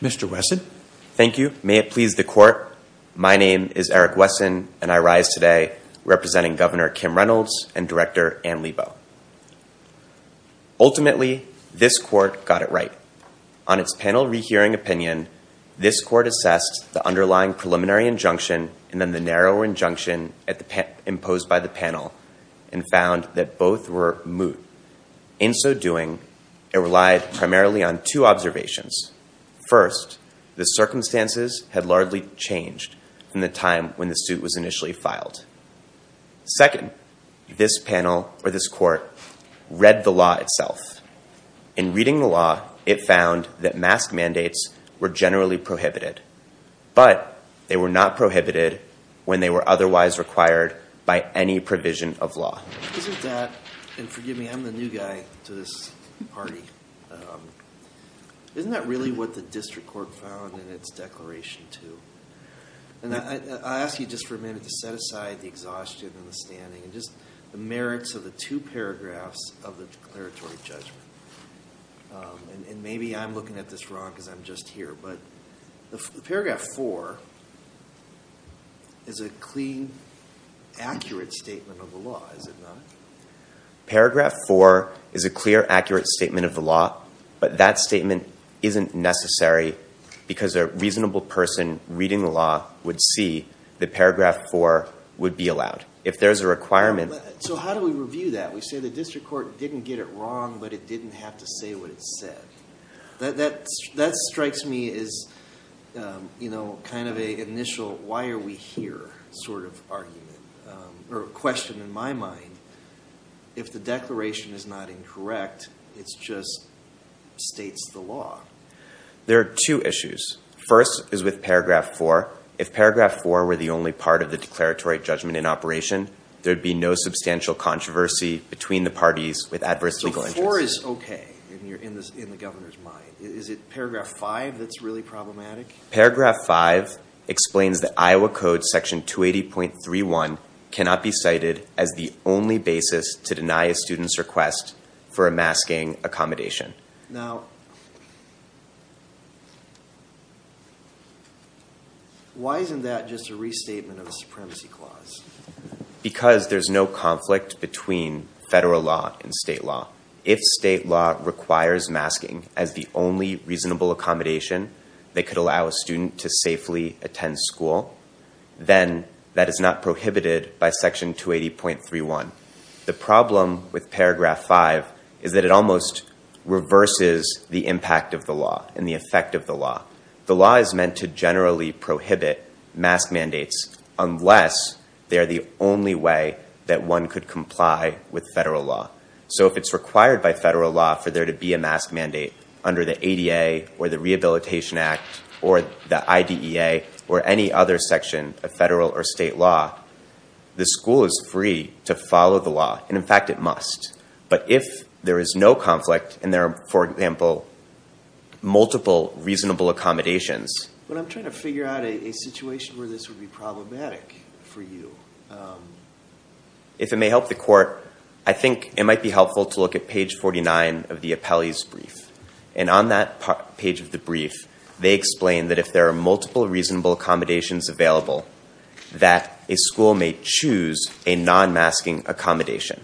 Mr. Wesson. Thank you. May it please the court. My name is Eric Wesson and I rise today representing Governor Kim Reynolds and Director Ann Lebo. Ultimately, this court got it right. On its panel rehearing opinion, this court assessed the underlying preliminary injunction and the narrow injunction imposed by the panel and found that both were moot. In so doing, it relied primarily on two observations. First, the circumstances had largely changed in the time when the suit was initially filed. Second, this panel or this court read the law itself. In reading the law, it found that mask mandates were generally prohibited, but they were not prohibited when they were otherwise required by any provision of law. Isn't that, and forgive me, I'm the new guy to this party, isn't that really what the district court found in its declaration two? I'll ask you just for a minute to set aside the exhaustion and the standing and just the merits of the two paragraphs of the declaratory judgment. And maybe I'm looking at this wrong because I'm just here, but the paragraph four is a clean, accurate statement of the law, is it not? Paragraph four is a clear, accurate statement of the law, but that statement isn't necessary because a reasonable person reading the law would see that paragraph four would be allowed. If there's a requirement. So how do we review that? We say the district court didn't get it wrong, but it didn't have to say what it said. That strikes me as kind of an initial why are we here sort of argument or question in my mind. If the declaration is not incorrect, it just states the law. There are two issues. First is with paragraph four. If paragraph four were the only part of the declaratory judgment in operation, there'd be no substantial controversy between the parties with adverse legal interests. So four is okay in the governor's mind. Is it paragraph five that's really problematic? Paragraph five explains that Iowa Code section 280.31 cannot be cited as the only basis to deny a student's request for a masking accommodation. Now, why isn't that just a restatement of a supremacy clause? Because there's no conflict between federal law and state law. If state law requires masking as the only reasonable accommodation that could allow a student to safely attend school, then that is not prohibited by section 280.31. The problem with paragraph five is that it almost reverses the impact of the law and the effect of the law. The law is meant to generally prohibit mask mandates unless they're the only way that one could comply with federal law. So if it's required by federal law for there to be a mask mandate under the ADA or the Rehabilitation Act or the IDEA or any other section of federal or state law, the school is free to follow the law. And in fact, it must. But if there is no conflict and there are, for example, multiple reasonable accommodations. But I'm trying to figure out a situation where this would be problematic for you. If it may help the court, I think it might be helpful to look at page 49 of the appellee's brief. They explain that if there are multiple reasonable accommodations available, that a school may choose a non-masking accommodation.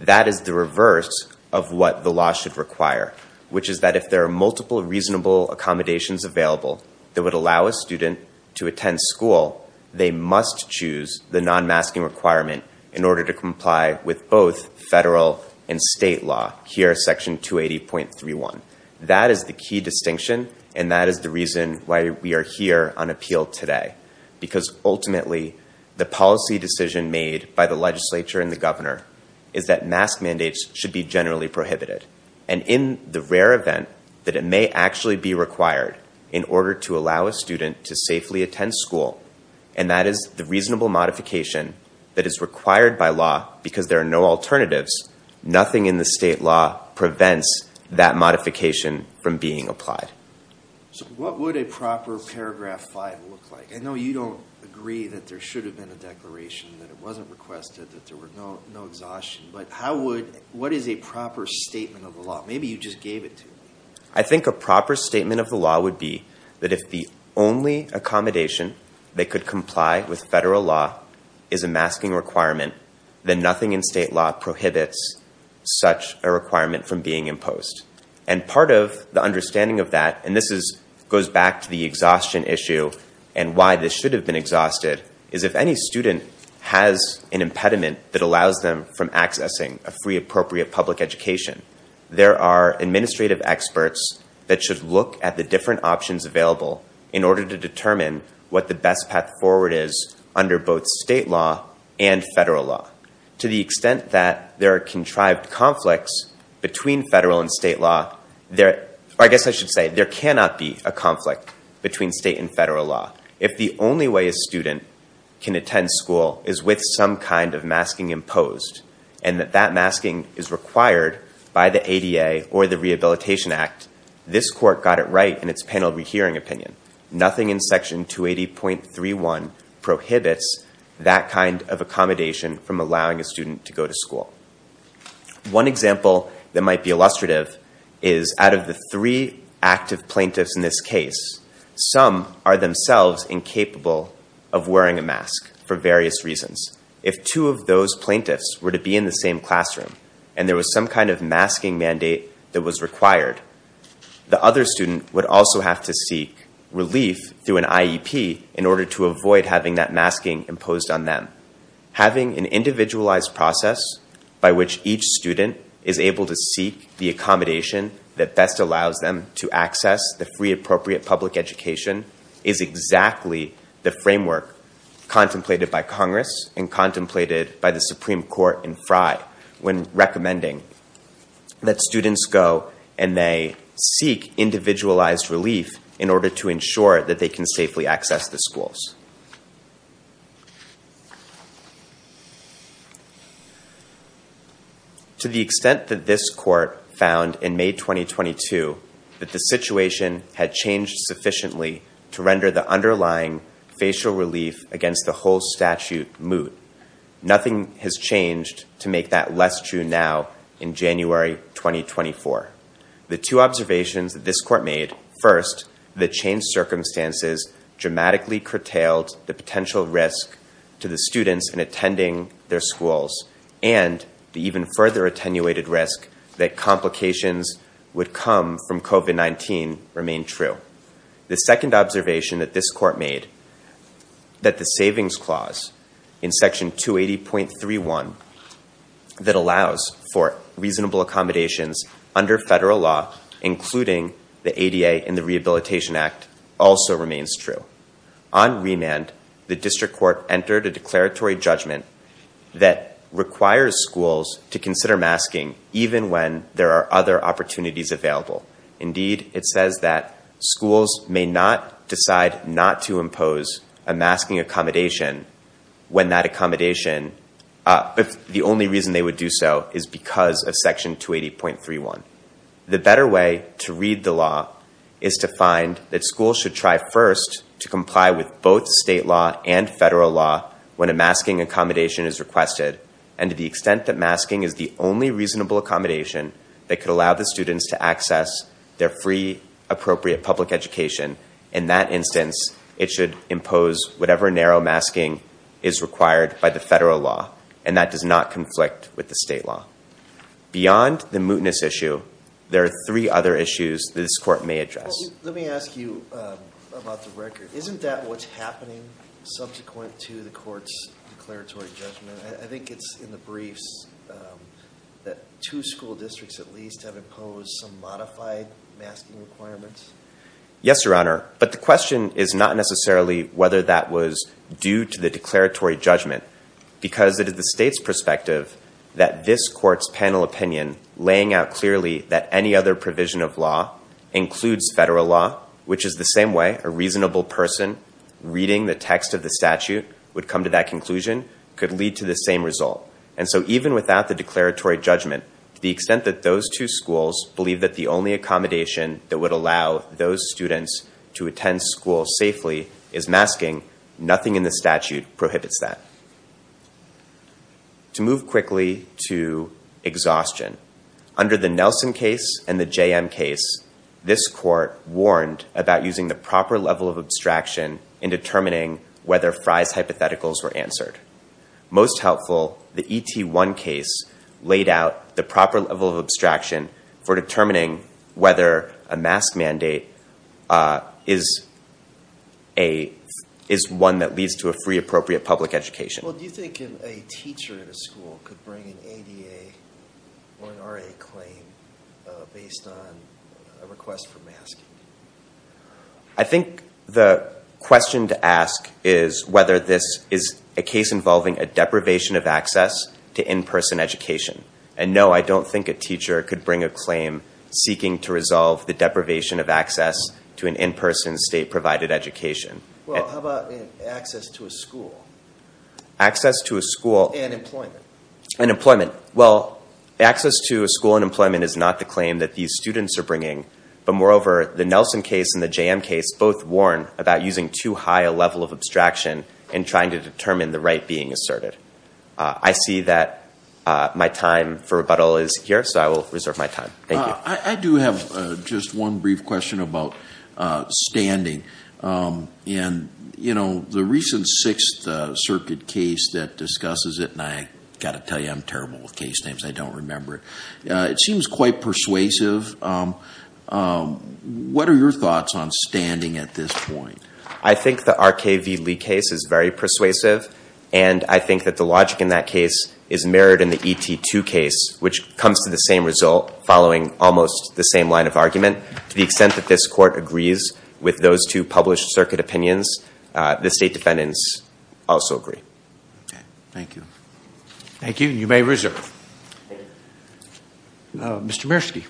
That is the reverse of what the law should require, which is that if there are multiple reasonable accommodations available that would allow a student to attend school, they must choose the non-masking requirement in order to comply with both federal and state law, here, section 280.31. That is the key distinction and that is the reason why we are here on appeal today. Because ultimately, the policy decision made by the legislature and the governor is that mask mandates should be generally prohibited. And in the rare event that it may actually be required in order to allow a student to safely attend school, and that is the reasonable modification that is required by law because there are no alternatives, nothing in the state law prevents that modification from being applied. So what would a proper paragraph 5 look like? I know you don't agree that there should have been a declaration, that it wasn't requested, that there was no exhaustion, but what is a proper statement of the law? Maybe you just gave it to me. I think a proper statement of the law would be that if the only accommodation that could comply with federal law is a masking requirement, then nothing in state law prohibits such a requirement. Part of the understanding of that, and this goes back to the exhaustion issue and why this should have been exhausted, is if any student has an impediment that allows them from accessing a free appropriate public education, there are administrative experts that should look at the different options available in order to determine what the best path forward is under both state law and federal law. To the extent that there are contrived conflicts between federal and state law, or I guess I should say there cannot be a conflict between state and federal law. If the only way a student can attend school is with some kind of masking imposed and that that masking is required by the ADA or the Rehabilitation Act, this court got it right in its panel re-hearing opinion. Nothing in section 280.31 prohibits that kind of accommodation from allowing a student to go to school. One example that might be illustrative is out of the three active plaintiffs in this case, some are themselves incapable of wearing a mask for various reasons. If two of those plaintiffs were to be in the same classroom and there was some kind of masking mandate that was required, the other student would also have to seek relief through an IEP in that having an individualized process by which each student is able to seek the accommodation that best allows them to access the free appropriate public education is exactly the framework contemplated by Congress and contemplated by the Supreme Court in Frye when recommending that students go and they seek individualized relief in order to ensure that they can safely access the schools. To the extent that this court found in May 2022 that the situation had changed sufficiently to render the underlying facial relief against the whole statute moot, nothing has changed to make that less true now in January 2024. The two observations that this court made, first, the changed circumstances dramatically curtailed the potential risk to the students in attending their schools and the even further attenuated risk that complications would come from COVID-19 remain true. The second observation that this court made, that the savings clause in section 280.31 that allows for reasonable accommodations under federal law, including the ADA and the Rehabilitation Act, also remains true. On remand, the district court entered a declaratory judgment that requires schools to consider masking even when there are other opportunities available. Indeed, it says that schools may not decide not to impose a masking accommodation when that accommodation, if the only reason they would do so is because of section 280.31. The better way to read the law is to find that schools should try first to comply with both state law and federal law when a masking accommodation is requested, and to the extent that masking is the only reasonable accommodation that could allow the students to access their free, appropriate public education, in that instance, it should impose whatever narrow masking is required by the federal law, and that does not conflict with the state law. Beyond the mootness issue, there are three other issues that this court may address. Let me ask you about the record. Isn't that what's happening subsequent to the court's declaratory judgment? I think it's in the briefs that two school districts at least have imposed some modified masking requirements. Yes, Your Honor, but the question is not necessarily whether that was due to the declaratory judgment, because it is the state's perspective that this court's panel opinion, laying out clearly that any other provision of law includes federal law, which is the same way a reasonable person reading the text of the statute would come to that conclusion, could lead to the same result. And so even without the declaratory judgment, to the extent that those two schools believe that the only accommodation that would allow those students to attend school safely is masking, nothing in the statute prohibits that. To move quickly to exhaustion, under the Nelson case and the JM case, this court warned about using the proper level of abstraction in determining whether Fry's hypotheticals were answered. Most helpful, the ET1 case laid out the proper level of abstraction for determining whether a mask mandate is one that leads to a free appropriate public education. Well, do you think a teacher in a school could bring an ADA or an RA claim based on a request for masking? I think the question to ask is whether this is a case involving a deprivation of access to in-person education. And no, I don't think a teacher could bring a claim seeking to resolve the deprivation of access to an in-person, state-provided education. Well, how about access to a school? Access to a school... And employment. And employment. Well, access to a school and employment is not the claim that these students are bringing. But moreover, the Nelson case and the JM case both warn about using too high a level of abstraction in trying to determine the right being asserted. I see that my time for rebuttal is here, so I will reserve my time. Thank you. I do have just one brief question about standing. And, you know, the recent Sixth Circuit case that discusses it, and I've got to tell you I'm terrible with case names, I don't remember it, it seems quite persuasive. What are your thoughts on standing at this point? I think the RKV Lee case is very persuasive, and I think that the logic in that case is following almost the same line of argument. To the extent that this Court agrees with those two published circuit opinions, the state defendants also agree. Thank you. Thank you. You may reserve. Mr. Mearski.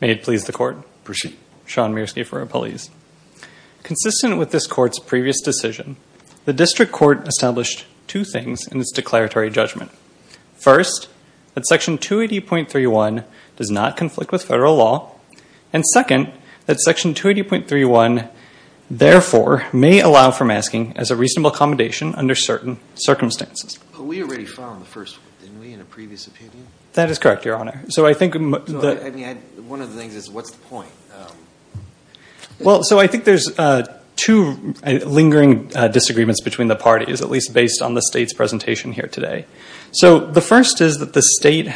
May it please the Court. Sean Mearski for our appellees. Consistent with this Court's previous decision, the District Court established two things in its declaratory judgment. First, that Section 280.31 does not conflict with federal law. And second, that Section 280.31, therefore, may allow for masking as a reasonable accommodation under certain circumstances. We already found the first one, didn't we, in a previous opinion? That is correct, Your Honor. One of the things is, what's the point? I think there's two lingering disagreements between the parties, at least based on the state's presentation here today. The first is that the state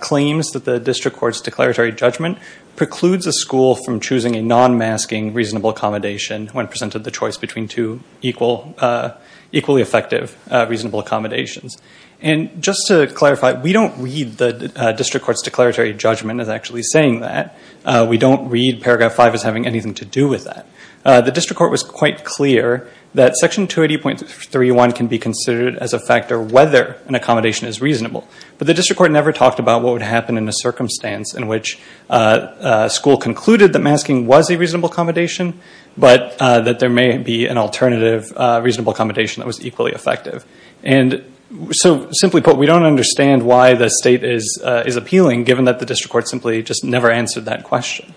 claims that the District Court's declaratory judgment precludes a school from choosing a non-masking reasonable accommodation when presented the choice between two equally effective reasonable accommodations. And just to clarify, we don't read the District Court's declaratory judgment as actually saying that. We don't read Paragraph 5 as having anything to do with that. The District Court was quite clear that Section 280.31 can be considered as a factor whether an accommodation is reasonable. But the District Court never talked about what would happen in a circumstance in which school concluded that masking was a reasonable accommodation, but that there may be an alternative reasonable accommodation that was equally effective. And so, simply put, we don't understand why the state is appealing, given that the District Court simply just never answered that question.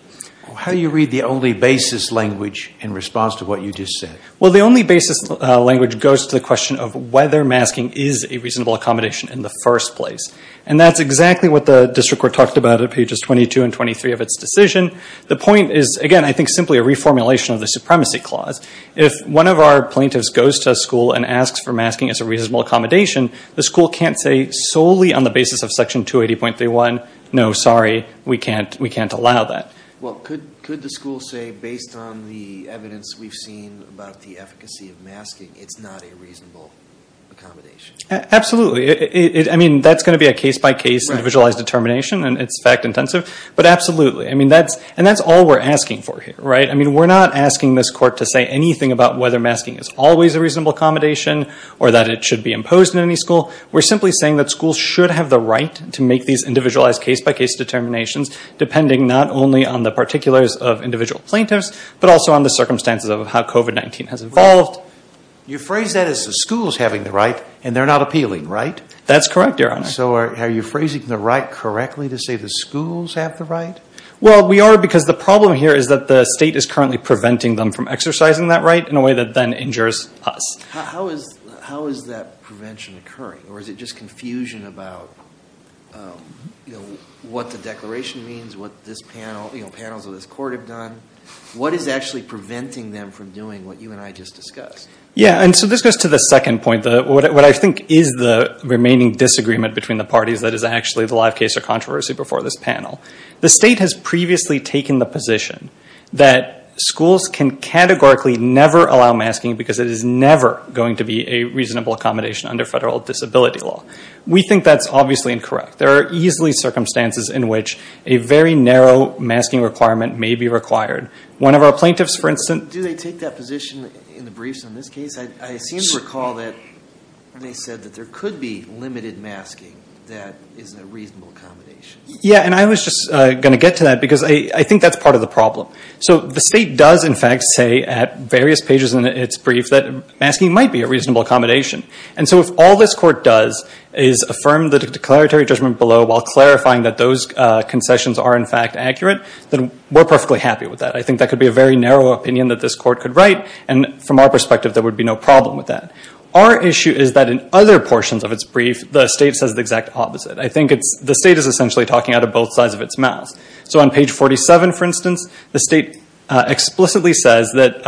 Well, how do you read the only basis language in response to what you just said? Well, the only basis language goes to the question of whether masking is a reasonable accommodation in the first place. And that's exactly what the District Court talked about at pages 22 and 23 of its decision. The point is, again, I think simply a reformulation of the Supremacy Clause. If one of our plaintiffs goes to a school and asks for masking as a reasonable accommodation, the school can't say solely on the basis of Section 280.31, no, sorry, we can't allow that. Well, could the school say, based on the evidence we've seen about the efficacy of masking, it's not a reasonable accommodation? Absolutely. I mean, that's going to be a case-by-case individualized determination, and it's fact intensive. But absolutely. I mean, that's all we're asking for here, right? I mean, we're not asking this Court to say anything about whether masking is always a reasonable accommodation or that it should be imposed in any school. We're simply saying that schools should have the right to make these individualized case-by-case determinations, depending not only on the particulars of individual plaintiffs, but also on the circumstances of how COVID-19 has evolved. You phrase that as the schools having the right, and they're not appealing, right? That's correct, Your Honor. So are you phrasing the right correctly to say the schools have the right? Well, we are, because the problem here is that the state is currently preventing them from exercising that right in a way that then injures us. How is that prevention occurring? Or is it just confusion about what the declaration means, what this panel, you know, panels of this Court have done? What is actually preventing them from doing what you and I just discussed? Yeah, and so this goes to the second point, what I think is the remaining disagreement between the parties that is actually the live case or controversy before this panel. The state has previously taken the position that schools can categorically never allow masking because it is never going to be a reasonable accommodation under federal disability law. We think that's obviously incorrect. There are easily circumstances in which a very narrow masking requirement may be required. One of our plaintiffs, for instance- Do they take that position in the briefs on this case? I seem to recall that they said that there could be limited masking that is a reasonable accommodation. Yeah, and I was just going to get to that because I think that's part of the problem. So the state does in fact say at various pages in its brief that masking might be a reasonable accommodation. And so if all this Court does is affirm the declaratory judgment below while clarifying that those concessions are in fact accurate, then we're perfectly happy with that. I think that could be a very narrow opinion that this Court could write, and from our perspective there would be no problem with that. Our issue is that in other portions of its brief, the state says the exact opposite. I think the state is essentially talking out of both sides of its mouth. So on page 47, for instance, the state explicitly says that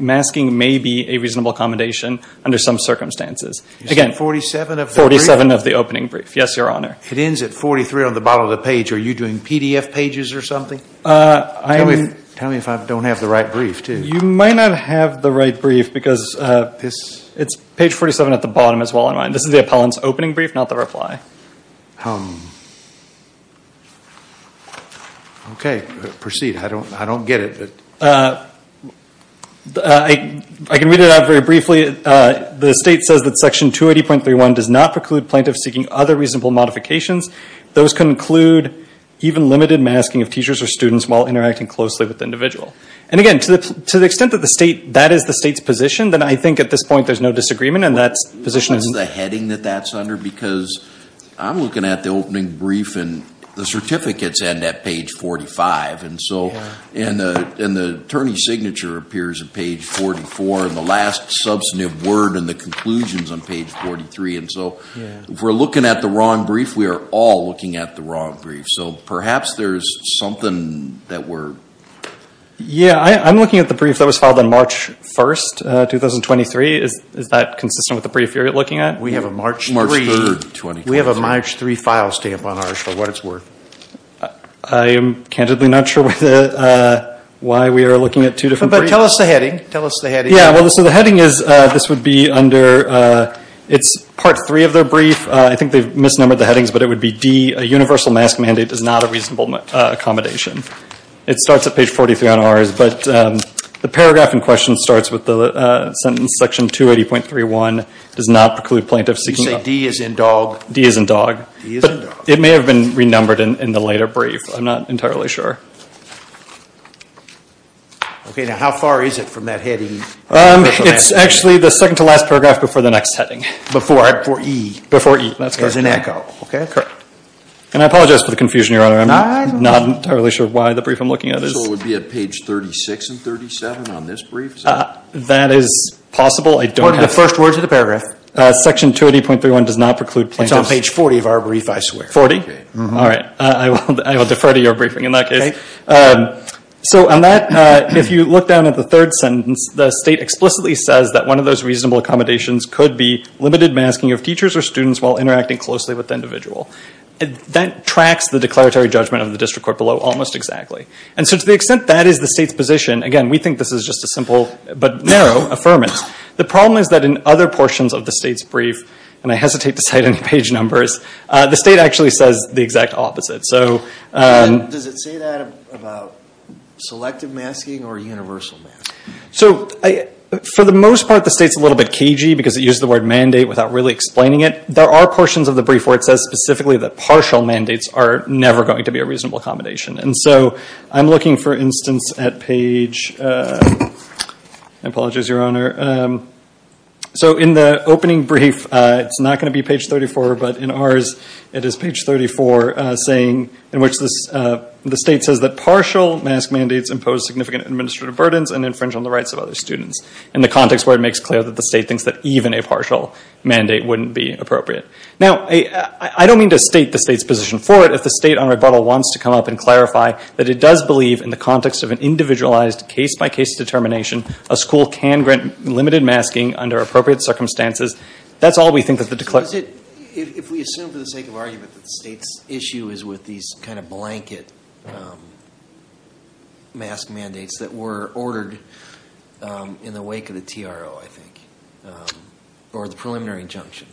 masking may be a reasonable accommodation under some circumstances. Again, 47 of the opening brief. Yes, Your Honor. It ends at 43 on the bottom of the page. Are you doing PDF pages or something? Tell me if I don't have the right brief, too. You might not have the right brief because it's page 47 at the bottom as well. This is the appellant's opening brief, not the reply. Okay. Proceed. I don't get it. I can read it out very briefly. The state says that Section 280.31 does not preclude plaintiffs seeking other reasonable modifications. Those conclude even limited masking of teachers or students while interacting closely with the individual. And again, to the extent that that is the state's position, then I think at this point there's no disagreement and that position is... Is this the heading that that's under? Because I'm looking at the opening brief and the certificates end at page 45. And the attorney's signature appears at page 44 and the last substantive word and the conclusion's on page 43. And so if we're looking at the wrong brief, we are all looking at the wrong brief. So perhaps there's something that we're... Yeah, I'm looking at the brief that was filed on March 1st, 2023. Is that consistent with the brief you're looking at? We have a March 3rd, 2023. We have a March 3rd file stamp on ours for what it's worth. I am candidly not sure why we are looking at two different briefs. But tell us the heading. Tell us the heading. Yeah, well, so the heading is, this would be under, it's part three of their brief. I think they've misnumbered the headings, but it would be D, a universal mask mandate is not a reasonable accommodation. It starts at page 43 on ours, but the paragraph in question starts with the sentence section 280.31, does not preclude plaintiffs seeking... You say D as in dog? D as in dog. D as in dog. It may have been renumbered in the later brief. I'm not entirely sure. Okay, now how far is it from that heading? It's actually the second to last paragraph before the next heading. Before E. Before E, that's correct. As in echo, okay? Correct. And I apologize for the confusion, Your Honor. I'm not entirely sure why the brief I'm looking at is... The individual would be at page 36 and 37 on this brief, is that it? That is possible. I don't have... What are the first words of the paragraph? Section 280.31 does not preclude plaintiffs... It's on page 40 of our brief, I swear. 40? Okay. All right. I will defer to your briefing in that case. So on that, if you look down at the third sentence, the state explicitly says that one of those reasonable accommodations could be limited masking of teachers or students while interacting closely with the individual. That tracks the declaratory judgment of the district court below almost exactly. And since to the extent that is the state's position, again, we think this is just a simple but narrow affirmance. The problem is that in other portions of the state's brief, and I hesitate to cite any page numbers, the state actually says the exact opposite. So does it say that about selective masking or universal masking? So for the most part, the state's a little bit cagey because it uses the word mandate without really explaining it. There are portions of the brief where it says specifically that for instance at page... I apologize, your honor. So in the opening brief, it's not going to be page 34, but in ours, it is page 34 saying in which the state says that partial mask mandates impose significant administrative burdens and infringe on the rights of other students. In the context where it makes clear that the state thinks that even a partial mandate wouldn't be appropriate. Now I don't mean to state the state's position for it. If the state on rebuttal wants to come up and clarify that it does believe in the context of an individualized case by case determination, a school can grant limited masking under appropriate circumstances, that's all we think that the... So is it, if we assume for the sake of argument that the state's issue is with these kind of blanket mask mandates that were ordered in the wake of the TRO, I think, or the preliminary injunction,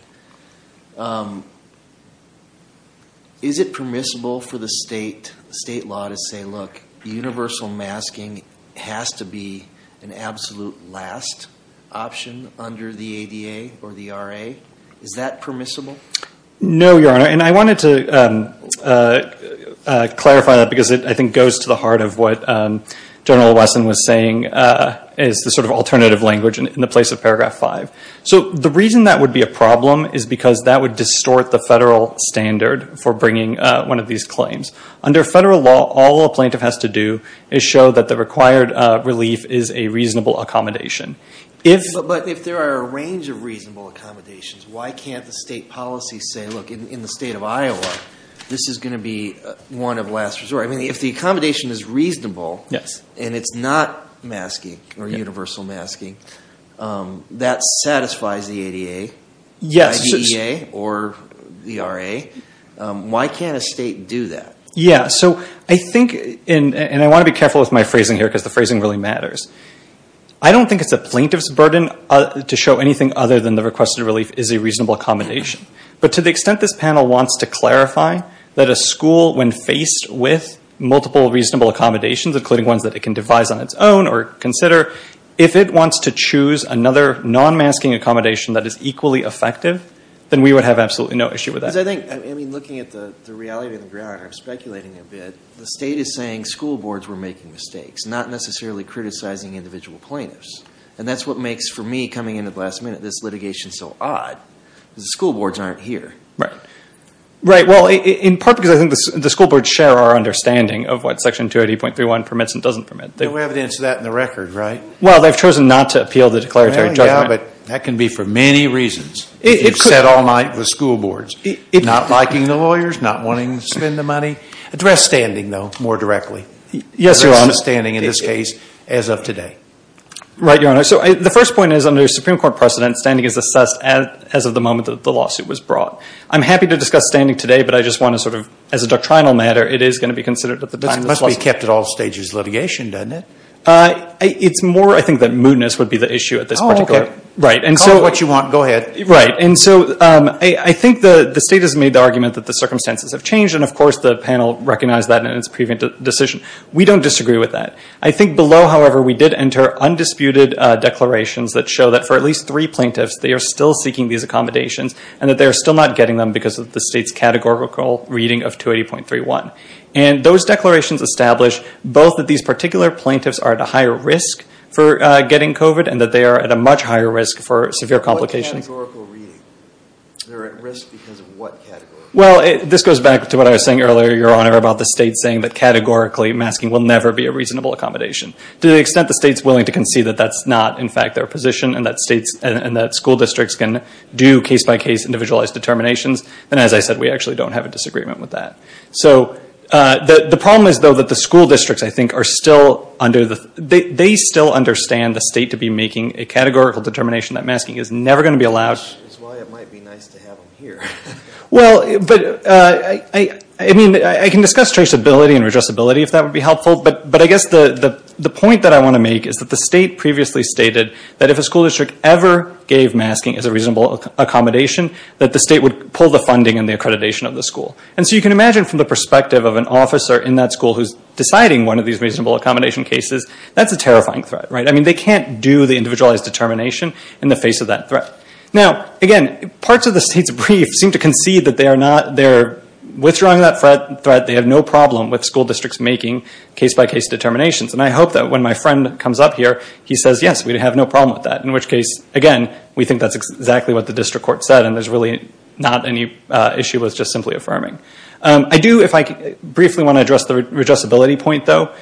is it permissible for the state law to say, look, universal masking has to be an absolute last option under the ADA or the RA? Is that permissible? No, your honor. And I wanted to clarify that because it, I think, goes to the heart of what General Wesson was saying is the sort of alternative language in the place of paragraph five. So the reason that would be a problem is because that would distort the federal standard for bringing one of these claims. Under federal law, all a plaintiff has to do is show that the required relief is a reasonable accommodation. But if there are a range of reasonable accommodations, why can't the state policy say, look, in the state of Iowa, this is going to be one of last resort. I mean, if the accommodation is reasonable and it's not masking or universal masking, that satisfies the ADA or the RA. Why can't a state do that? Yeah. So I think, and I want to be careful with my phrasing here because the phrasing really matters. I don't think it's a plaintiff's burden to show anything other than the requested relief is a reasonable accommodation. But to the accommodations, including ones that it can devise on its own or consider, if it wants to choose another non-masking accommodation that is equally effective, then we would have absolutely no issue with that. Because I think, I mean, looking at the reality of the ground, I'm speculating a bit. The state is saying school boards were making mistakes, not necessarily criticizing individual plaintiffs. And that's what makes, for me, coming in at the last minute, this litigation so odd. The school boards aren't here. Right. Right. Well, in part because I think the school boards share our understanding of what Section 280.31 permits and doesn't permit. No evidence of that in the record, right? Well, they've chosen not to appeal the declaratory judgment. Yeah, but that can be for many reasons. If you've sat all night with school boards, not liking the lawyers, not wanting to spend the money. Address standing, though, more directly. Yes, Your Honor. Address standing in this case as of today. Right, Your Honor. So the first point is, under Supreme Court precedent, standing is assessed as of the moment that the lawsuit was brought. I'm happy to discuss standing today, but I just want to sort of, as a doctrinal matter, it is going to be considered at the time. It must be kept at all stages of litigation, doesn't it? It's more, I think, that moodiness would be the issue at this point. Oh, okay. Right. Call it what you want. Go ahead. Right. And so I think the State has made the argument that the circumstances have changed, and of course, the panel recognized that in its previous decision. We don't disagree with that. I think below, however, we did enter undisputed declarations that show that for at least three plaintiffs, they are still seeking these accommodations and that they are still getting them because of the State's categorical reading of 280.31. And those declarations establish both that these particular plaintiffs are at a higher risk for getting COVID and that they are at a much higher risk for severe complications. What categorical reading? They're at risk because of what category? Well, this goes back to what I was saying earlier, Your Honor, about the State saying that categorically, masking will never be a reasonable accommodation. To the extent the State's willing to concede that that's not, in fact, their position and that school districts can do case-by-case, individualized determinations, then, as I said, we actually don't have a disagreement with that. So, the problem is, though, that the school districts, I think, are still under the, they still understand the State to be making a categorical determination that masking is never going to be allowed. Which is why it might be nice to have them here. Well, but, I mean, I can discuss traceability and redressability if that would be helpful, but I guess the point that I want to make is that the State previously stated that if a school district ever gave masking as a reasonable accommodation, that the State would pull the funding and the accreditation of the school. And so you can imagine, from the perspective of an officer in that school who's deciding one of these reasonable accommodation cases, that's a terrifying threat, right? I mean, they can't do the individualized determination in the face of that threat. Now, again, parts of the State's brief seem to concede that they are not, they're withdrawing that threat, they have no problem with school districts making case-by-case determinations. And I hope that when my friend comes up here, he says, yes, we have no problem with that. In which case, again, we think that's exactly what the district court said, and there's really not any issue with just simply affirming. I do, if I briefly want to address the redressability point, though,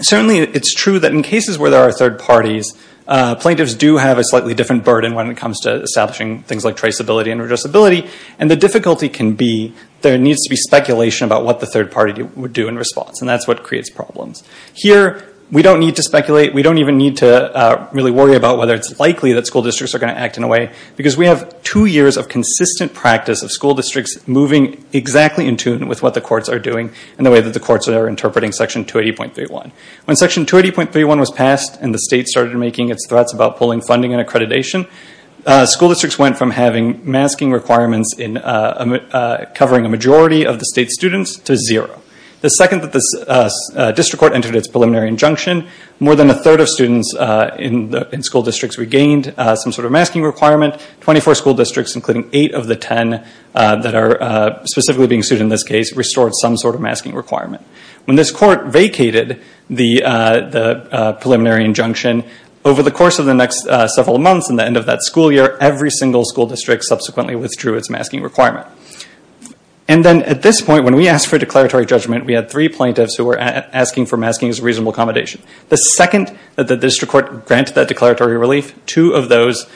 certainly it's true that in cases where there are third parties, plaintiffs do have a slightly different burden when it comes to establishing things like traceability and redressability. And the difficulty can be, there needs to be speculation about what the third party would do in response, and that's what creates problems. Here, we don't need to speculate, we don't even need to really worry about whether it's likely that school districts are going to act in a way, because we have two years of consistent practice of school districts moving exactly in tune with what the courts are doing, and the way that the courts are interpreting Section 280.31. When Section 280.31 was passed, and the State started making its threats about pulling funding and accreditation, school districts went from having masking requirements covering a majority of the State's students to zero. The second that the district court entered its preliminary injunction, more than a third of students in school districts regained some sort of masking requirement. Twenty-four school districts, including eight of the ten that are specifically being sued in this case, restored some sort of masking requirement. When this court vacated the preliminary injunction, over the course of the next several months and the end of that school year, every single school district subsequently withdrew its masking requirement. And then at this point, when we asked for a declaratory judgment, we had three plaintiffs who were asking for masking as a reasonable accommodation. The second that the district court granted that declaratory relief, two of those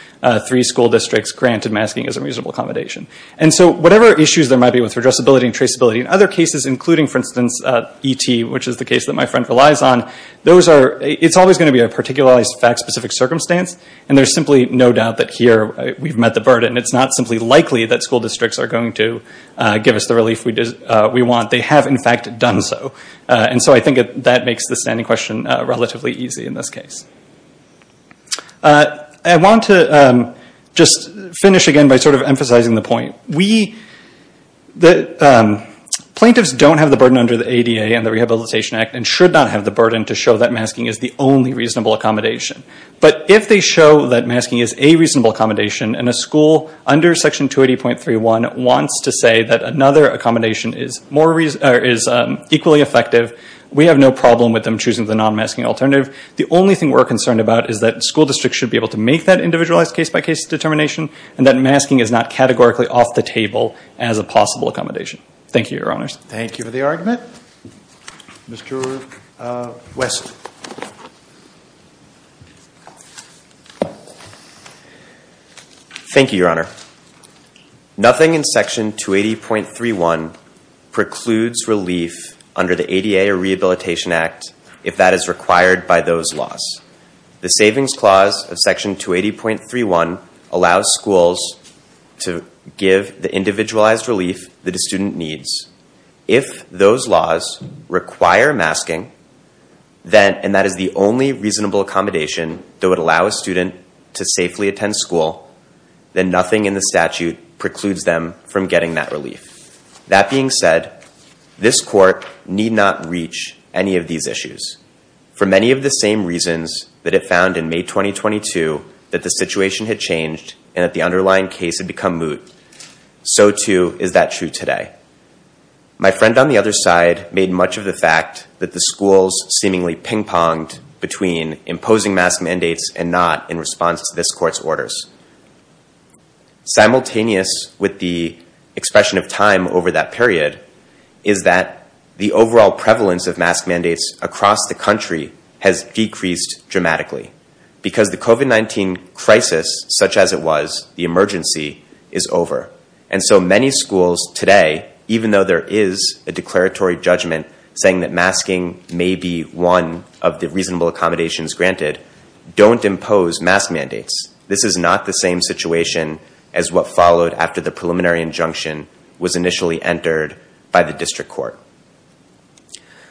three school districts granted masking as a reasonable accommodation. And so whatever issues there might be with redressability and traceability in other cases, including, for instance, E.T., which is the case that my friend relies on, it's always going to be a particularized, fact-specific circumstance, and there's simply no doubt that here we've met the burden. It's not simply likely that give us the relief we want. They have, in fact, done so. And so I think that makes the standing question relatively easy in this case. I want to just finish again by sort of emphasizing the point. Plaintiffs don't have the burden under the ADA and the Rehabilitation Act and should not have the burden to show that masking is the only reasonable accommodation. But if they show that masking is a reasonable accommodation and a school under Section 280.31 wants to say that another accommodation is equally effective, we have no problem with them choosing the non-masking alternative. The only thing we're concerned about is that school districts should be able to make that individualized case-by-case determination and that masking is not categorically off the table as a possible accommodation. Thank you, Your Honors. Thank you for the argument. Mr. West. Thank you, Your Honor. Nothing in Section 280.31 precludes relief under the ADA or Rehabilitation Act if that is required by those laws. The Savings Clause of Section 280.31 allows schools to give the individualized relief that a student needs. If those laws require masking, and that is the only reasonable accommodation that would allow a student to safely attend school, then nothing in the statute precludes them from getting that relief. That being said, this Court need not reach any of these issues for many of the same reasons that it found in May 2022 that the situation had changed and that the underlying case had become moot. So too is that true today. My friend on the other side made much of the fact that the schools seemingly ping-ponged between imposing mask mandates and not in response to this Court's orders. Simultaneous with the expression of time over that period is that the overall prevalence of mask mandates across the country has decreased dramatically because the COVID-19 crisis such as it was, the emergency, is over. And so many schools today, even though there is a declaratory judgment saying that masking may be one of the reasonable accommodations granted, don't impose mask mandates. This is not the same situation as what followed after the preliminary injunction was initially entered by the District Court.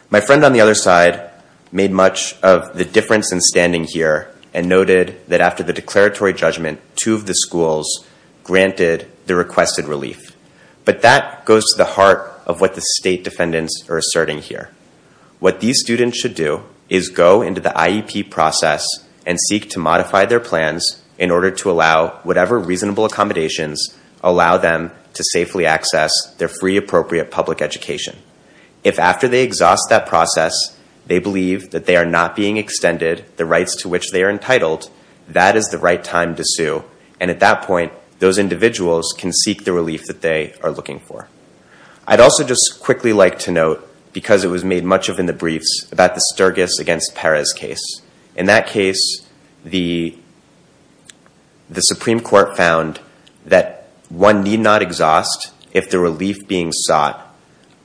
My friend on the other side made much of the difference in standing here and noted that after the declaratory judgment, two of the schools granted the requested relief. But that goes to the heart of what the state defendants are asserting here. What these students should do is go into the IEP process and seek to modify their their free appropriate public education. If after they exhaust that process, they believe that they are not being extended the rights to which they are entitled, that is the right time to sue. And at that point, those individuals can seek the relief that they are looking for. I'd also just quickly like to note, because it was made much of in the briefs, about the Sturgis against Perez case. In that case, the Supreme Court found that one need not exhaust if the relief being sought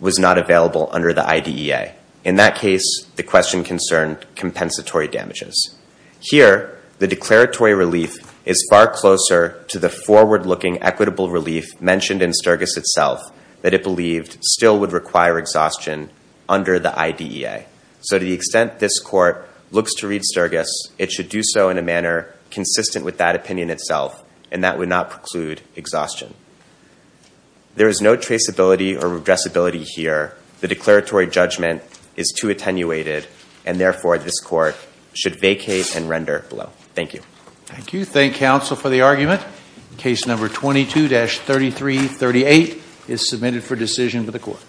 was not available under the IDEA. In that case, the question concerned compensatory damages. Here, the declaratory relief is far closer to the forward-looking equitable relief mentioned in Sturgis itself that it believed still would require exhaustion under the IDEA. So to the Sturgis, it should do so in a manner consistent with that opinion itself, and that would not preclude exhaustion. There is no traceability or addressability here. The declaratory judgment is too attenuated, and therefore, this court should vacate and render below. Thank you. Thank you. Thank counsel for the argument. Case number 22-3338 is submitted for decision to the court.